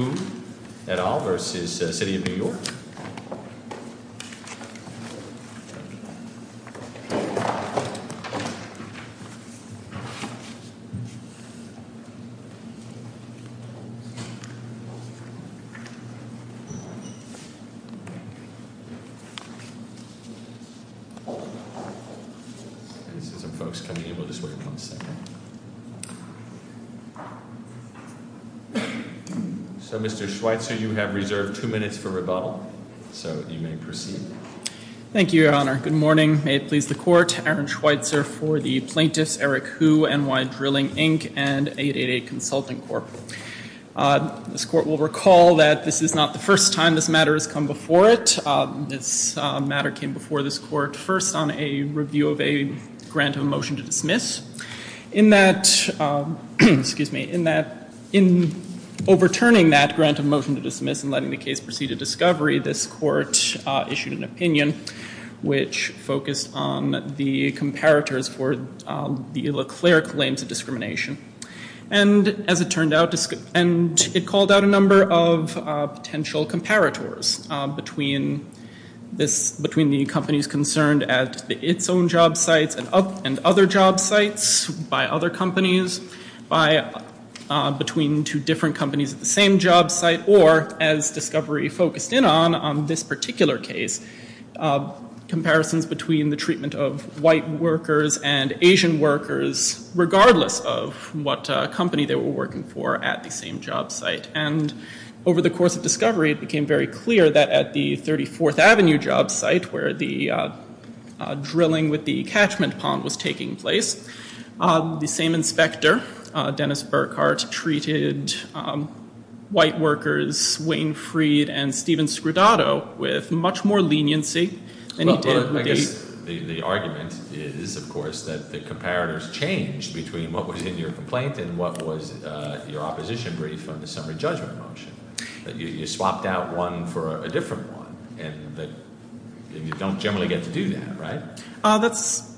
Boone, et al. v. City of New York Mr. Schweitzer, you have reserved two minutes for rebuttal, so you may proceed. Thank you, Your Honor. Good morning. May it please the Court. Aaron Schweitzer for the plaintiffs, Eric Hu, NY Drilling, Inc., and 888 Consulting Corp. This Court will recall that this is not the first time this matter has come before it. This matter came before this Court first on a review of a grant of a motion to dismiss. In overturning that grant of motion to dismiss and letting the case proceed to discovery, this Court issued an opinion which focused on the comparators for the Leclerc claims of discrimination. And, as it turned out, it called out a number of potential comparators between the companies concerned at its own job sites and other job sites by other companies, between two different companies at the same job site, or, as discovery focused in on, on this particular case, comparisons between the treatment of white workers and Asian workers, regardless of what company they were working for at the same job site. And over the course of discovery, it became very clear that at the 34th Avenue job site, where the drilling with the catchment pond was taking place, the same inspector, Dennis Burkhart, treated white workers, Wayne Freed and Stephen Scrodato, with much more leniency than he did in the case. The argument is, of course, that the comparators changed between what was in your complaint and what was your opposition brief on the summary judgment motion. You swapped out one for a different one, and you don't generally get to do that, right? That's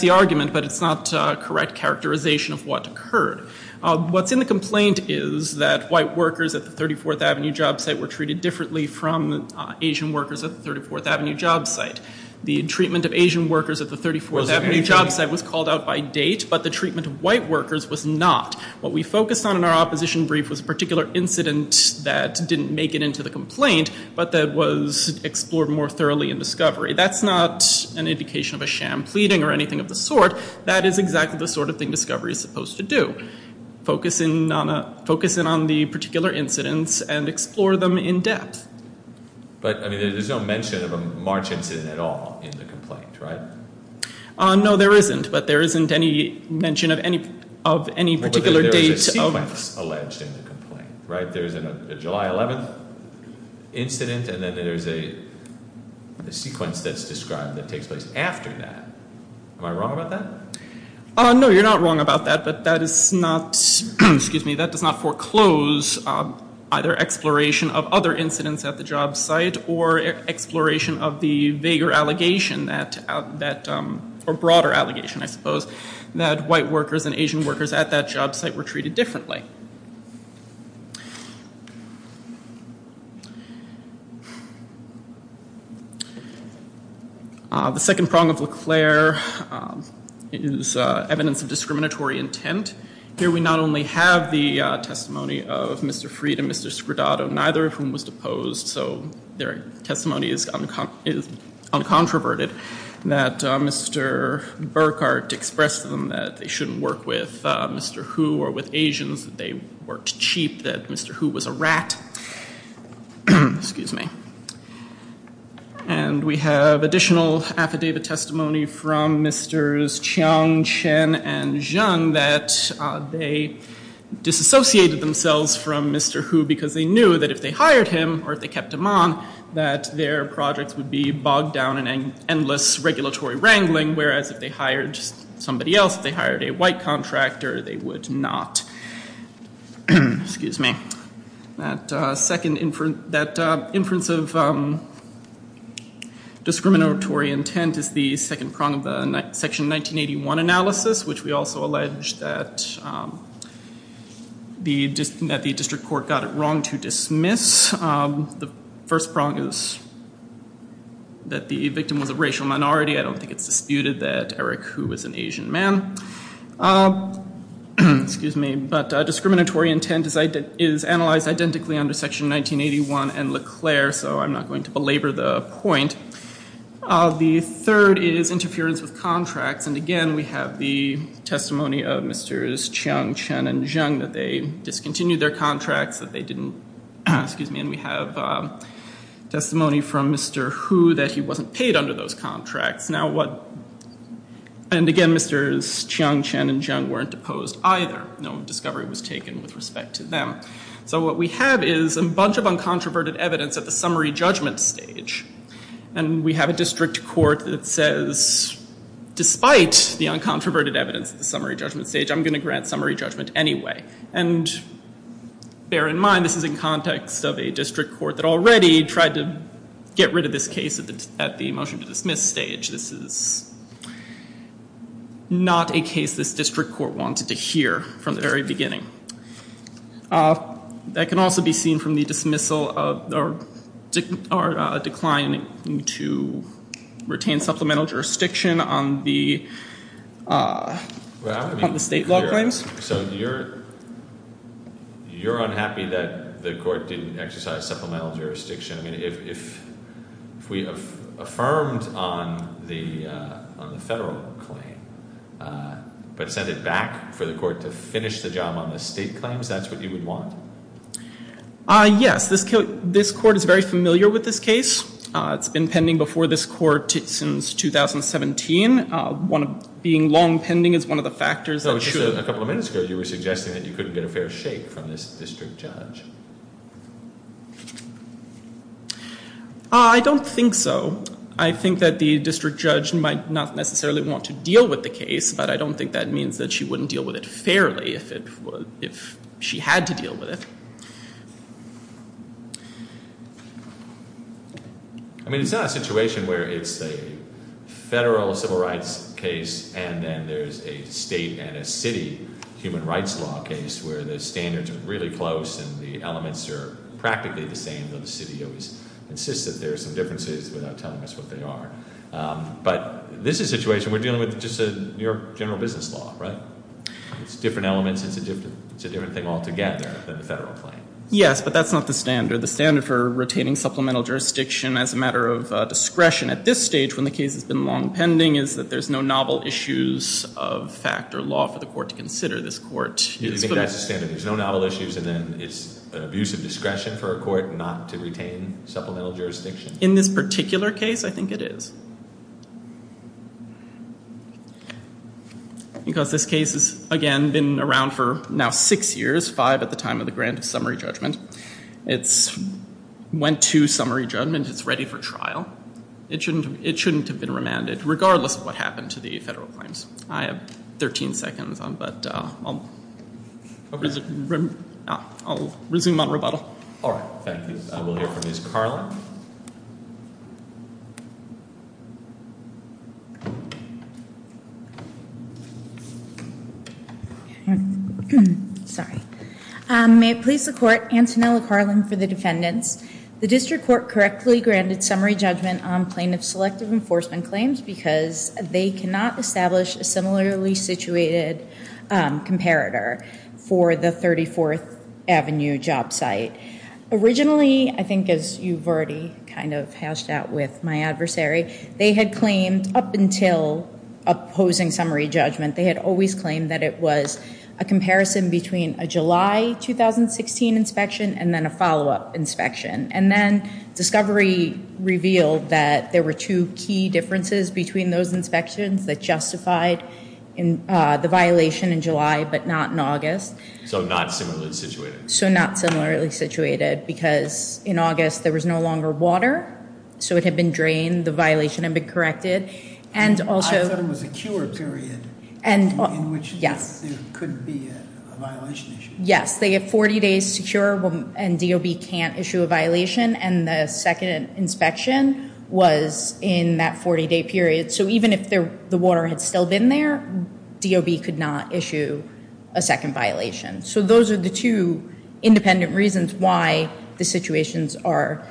the argument, but it's not correct characterization of what occurred. What's in the complaint is that white workers at the 34th Avenue job site were treated differently from Asian workers at the 34th Avenue job site. The treatment of Asian workers at the 34th Avenue job site was called out by date, but the treatment of white workers was not. What we focused on in our opposition brief was a particular incident that didn't make it into the complaint, but that was explored more thoroughly in discovery. That's not an indication of a sham pleading or anything of the sort. That is exactly the sort of thing discovery is supposed to do, focus in on the particular incidents and explore them in depth. But, I mean, there's no mention of a March incident at all in the complaint, right? No, there isn't, but there isn't any mention of any particular date. But there is a sequence alleged in the complaint, right? There's a July 11th incident, and then there's a sequence that's described that takes place after that. Am I wrong about that? No, you're not wrong about that, but that is not, excuse me, that does not foreclose either exploration of other incidents at the job site or exploration of the vaguer allegation or broader allegation, I suppose, that white workers and Asian workers at that job site were treated differently. The second prong of Leclerc is evidence of discriminatory intent. Here we not only have the testimony of Mr. Freed and Mr. Scrodato, neither of whom was deposed, so their testimony is uncontroverted, that Mr. Burkhart expressed to them that they shouldn't work with Mr. Hu or with Asians, that they worked cheap, that Mr. Hu was a rat, excuse me. And we have additional affidavit testimony from Mr. Chiang, Chen, and Zhang that they disassociated themselves from Mr. Hu because they knew that if they hired him or if they kept him on, that their projects would be bogged down in endless regulatory wrangling, whereas if they hired somebody else, if they hired a white contractor, they would not. Excuse me. That inference of discriminatory intent is the second prong of the Section 1981 analysis, which we also allege that the district court got it wrong to dismiss. The first prong is that the victim was a racial minority. I don't think it's disputed that Eric Hu was an Asian man. Excuse me. But discriminatory intent is analyzed identically under Section 1981 and Leclerc, so I'm not going to belabor the point. The third is interference with contracts, and again we have the testimony of Mr. Chiang, Chen, and Zhang, that they discontinued their contracts, that they didn't, excuse me, and we have testimony from Mr. Hu that he wasn't paid under those contracts. And again, Mr. Chiang, Chen, and Zhang weren't deposed either. No discovery was taken with respect to them. So what we have is a bunch of uncontroverted evidence at the summary judgment stage. And we have a district court that says, despite the uncontroverted evidence at the summary judgment stage, I'm going to grant summary judgment anyway. And bear in mind, this is in context of a district court that already tried to get rid of this case at the motion to dismiss stage. This is not a case this district court wanted to hear from the very beginning. That can also be seen from the dismissal or decline to retain supplemental jurisdiction on the state law claims. So you're unhappy that the court didn't exercise supplemental jurisdiction. I mean, if we affirmed on the federal claim, but sent it back for the court to finish the job on the state claims, that's what you would want? Yes. This court is very familiar with this case. It's been pending before this court since 2017. Being long pending is one of the factors that should- Just a couple of minutes ago, you were suggesting that you couldn't get a fair shake from this district judge. I don't think so. I think that the district judge might not necessarily want to deal with the case, but I don't think that means that she wouldn't deal with it fairly if she had to deal with it. I mean, it's not a situation where it's a federal civil rights case, and then there's a state and a city human rights law case where the standards are really close and the elements are practically the same, even though the city always insists that there are some differences without telling us what they are. But this is a situation where we're dealing with just a general business law, right? It's different elements. It's a different thing altogether than the federal claim. Yes, but that's not the standard. The standard for retaining supplemental jurisdiction as a matter of discretion at this stage, when the case has been long pending, is that there's no novel issues of fact or law for the court to consider. You think that's the standard? There's no novel issues, and then it's an abuse of discretion for a court not to retain supplemental jurisdiction? In this particular case, I think it is. Because this case has, again, been around for now six years, five at the time of the grant of summary judgment. It went to summary judgment. It's ready for trial. It shouldn't have been remanded, regardless of what happened to the federal claims. I have 13 seconds, but I'll resume my rebuttal. All right. Thank you. We'll hear from Ms. Carlin. Sorry. May it please the court, Antonella Carlin for the defendants. The district court correctly granted summary judgment on plaintiff's selective enforcement claims because they cannot establish a similarly situated comparator for the 34th Avenue job site. Originally, I think as you've already kind of hashed out with my adversary, they had claimed up until opposing summary judgment, they had always claimed that it was a comparison between a July 2016 inspection and then a follow-up inspection. And then discovery revealed that there were two key differences between those inspections that justified the violation in July but not in August. So not similarly situated. So not similarly situated because in August there was no longer water, so it had been drained, the violation had been corrected. I thought it was a cure period in which there could be a violation issue. Yes, they have 40 days to cure and DOB can't issue a violation. And the second inspection was in that 40-day period. So even if the water had still been there, DOB could not issue a second violation. So those are the two independent reasons why the situations are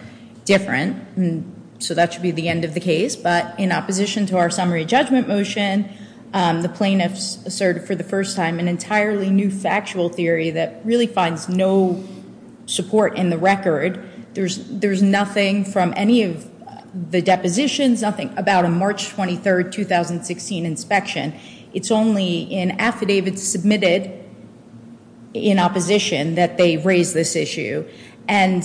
different. So that should be the end of the case. But in opposition to our summary judgment motion, the plaintiffs asserted for the first time an entirely new factual theory that really finds no support in the record. There's nothing from any of the depositions, nothing about a March 23, 2016 inspection. It's only in affidavits submitted in opposition that they raise this issue. And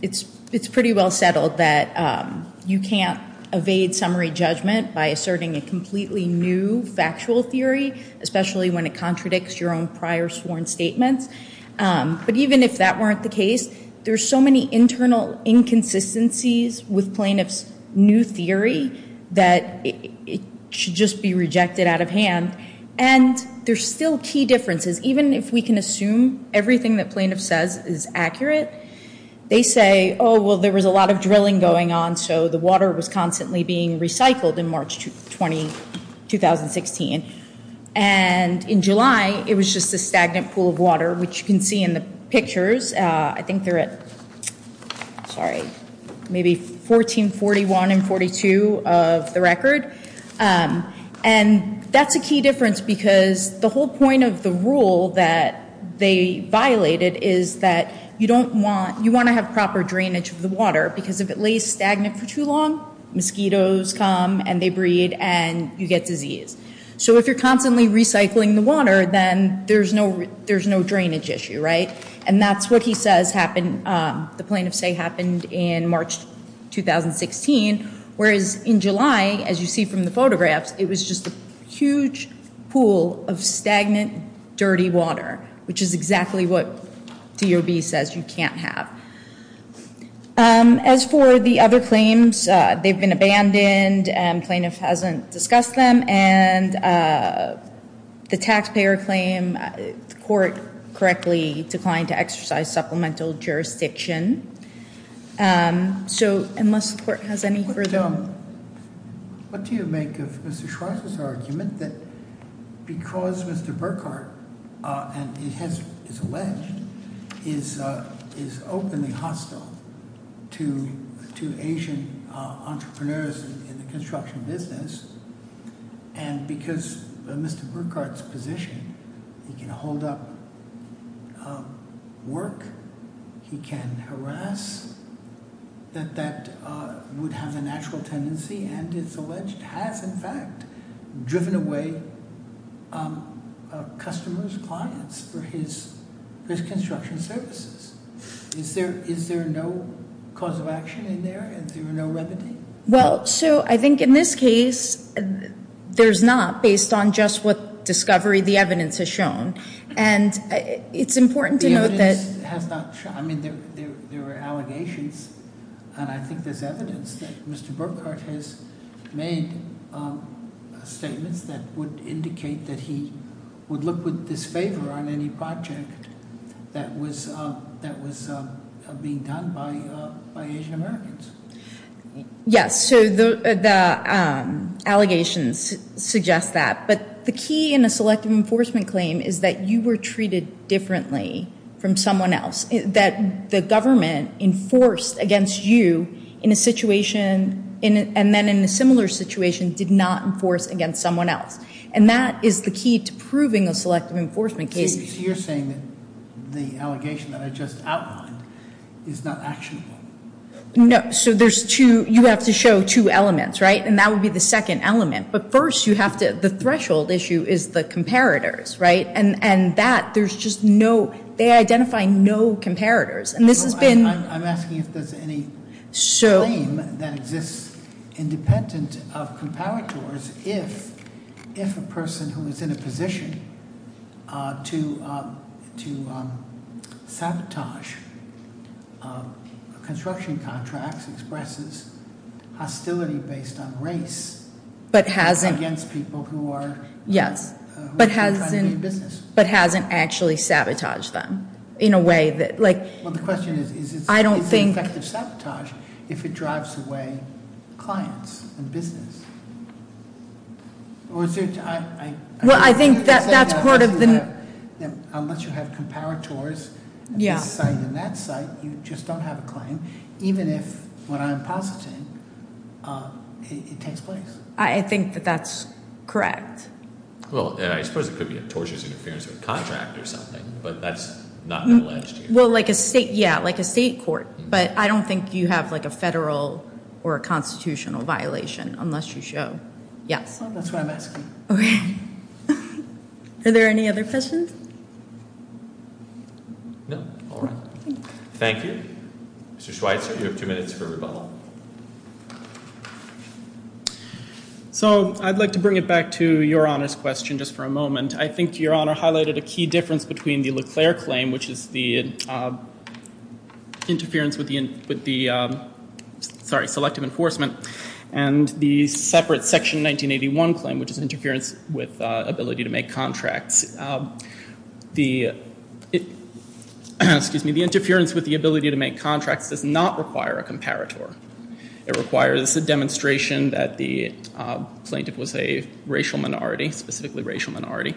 it's pretty well settled that you can't evade summary judgment by asserting a completely new factual theory, especially when it contradicts your own prior sworn statements. But even if that weren't the case, there's so many internal inconsistencies with plaintiffs' new theory that it should just be rejected out of hand. And there's still key differences. Even if we can assume everything that plaintiff says is accurate, they say, oh, well, there was a lot of drilling going on, so the water was constantly being recycled in March 20, 2016. And in July, it was just a stagnant pool of water, which you can see in the pictures. I think they're at, sorry, maybe 1441 and 42 of the record. And that's a key difference because the whole point of the rule that they violated is that you don't want, you want to have proper drainage of the water because if it lays stagnant for too long, mosquitoes come and they breed and you get disease. So if you're constantly recycling the water, then there's no drainage issue, right? And that's what he says happened, the plaintiffs say happened in March 2016. Whereas in July, as you see from the photographs, it was just a huge pool of stagnant, dirty water, which is exactly what DOB says you can't have. As for the other claims, they've been abandoned, plaintiff hasn't discussed them, and the taxpayer claim, the court correctly declined to exercise supplemental jurisdiction. So unless the court has any further- What do you make of Mr. Schwartz's argument that because Mr. Burkhart, and it is alleged, is openly hostile to Asian entrepreneurs in the construction business, and because of Mr. Burkhart's position, he can hold up work, he can harass, that that would have a natural tendency, and it's alleged, has in fact, driven away customers, clients, for his construction services. Is there no cause of action in there? Is there no remedy? Well, Sue, I think in this case, there's not, based on just what discovery the evidence has shown. And it's important to note that- The evidence has not shown, I mean, there were allegations, and I think there's evidence that Mr. Burkhart has made statements that would indicate that he would look with disfavor on any project that was being done by Asian Americans. Yes, so the allegations suggest that. But the key in a selective enforcement claim is that you were treated differently from someone else, that the government enforced against you in a situation, and then in a similar situation, did not enforce against someone else. And that is the key to proving a selective enforcement case. So you're saying that the allegation that I just outlined is not actionable? No, so there's two, you have to show two elements, right? And that would be the second element. But first, you have to, the threshold issue is the comparators, right? And that, there's just no, they identify no comparators. And this has been- I'm asking if there's any claim that exists independent of comparators if a person who is in a position to sabotage construction contracts expresses hostility based on race against people who are trying to do business. But hasn't actually sabotaged them in a way that- Well, the question is, is it- I don't think- Is it effective sabotage if it drives away clients and business? Or is there- Well, I think that's part of the- Unless you have comparators at this site and that site, you just don't have a claim, even if what I'm positing, it takes place. I think that that's correct. Well, I suppose it could be a torturous interference with a contract or something, but that's not alleged here. Well, like a state, yeah, like a state court. But I don't think you have like a federal or a constitutional violation unless you show. Yes. That's what I'm asking. Okay. Are there any other questions? No. All right. Thank you. Mr. Schweitzer, you have two minutes for rebuttal. So, I'd like to bring it back to Your Honor's question just for a moment. I think Your Honor highlighted a key difference between the Leclerc claim, which is the interference with the- Sorry, selective enforcement, and the separate Section 1981 claim, which is interference with ability to make contracts. The- Excuse me. The interference with the ability to make contracts does not require a comparator. It requires a demonstration that the plaintiff was a racial minority, specifically racial minority.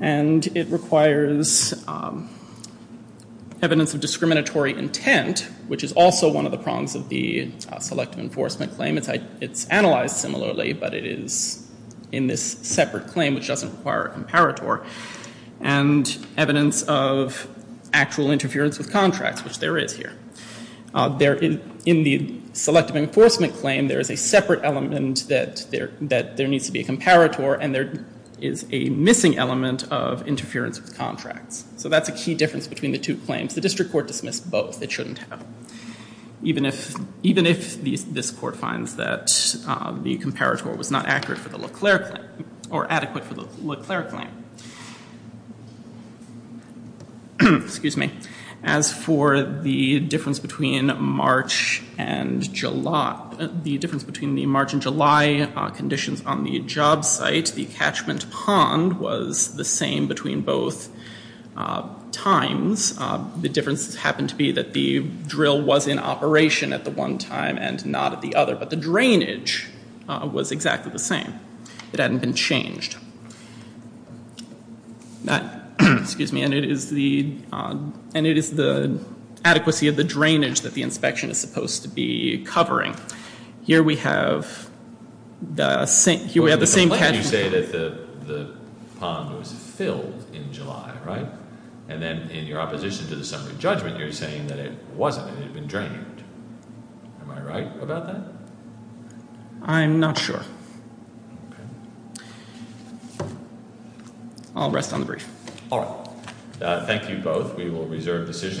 And it requires evidence of discriminatory intent, which is also one of the prongs of the selective enforcement claim. It's analyzed similarly, but it is in this separate claim, which doesn't require a comparator. And evidence of actual interference with contracts, which there is here. In the selective enforcement claim, there is a separate element that there needs to be a comparator, and there is a missing element of interference with contracts. So that's a key difference between the two claims. The district court dismissed both. It shouldn't have. Even if this court finds that the comparator was not accurate for the Leclerc claim, or adequate for the Leclerc claim. Excuse me. As for the difference between March and July, the difference between the March and July conditions on the job site, the catchment pond was the same between both times. The difference happened to be that the drill was in operation at the one time and not at the other. But the drainage was exactly the same. It hadn't been changed. Excuse me. And it is the adequacy of the drainage that the inspection is supposed to be covering. Here we have the same catchment pond. You say that the pond was filled in July, right? And then in your opposition to the summary judgment, you're saying that it wasn't. It had been drained. Am I right about that? I'm not sure. Okay. I'll rest on the brief. All right. Thank you both. We will reserve decisions.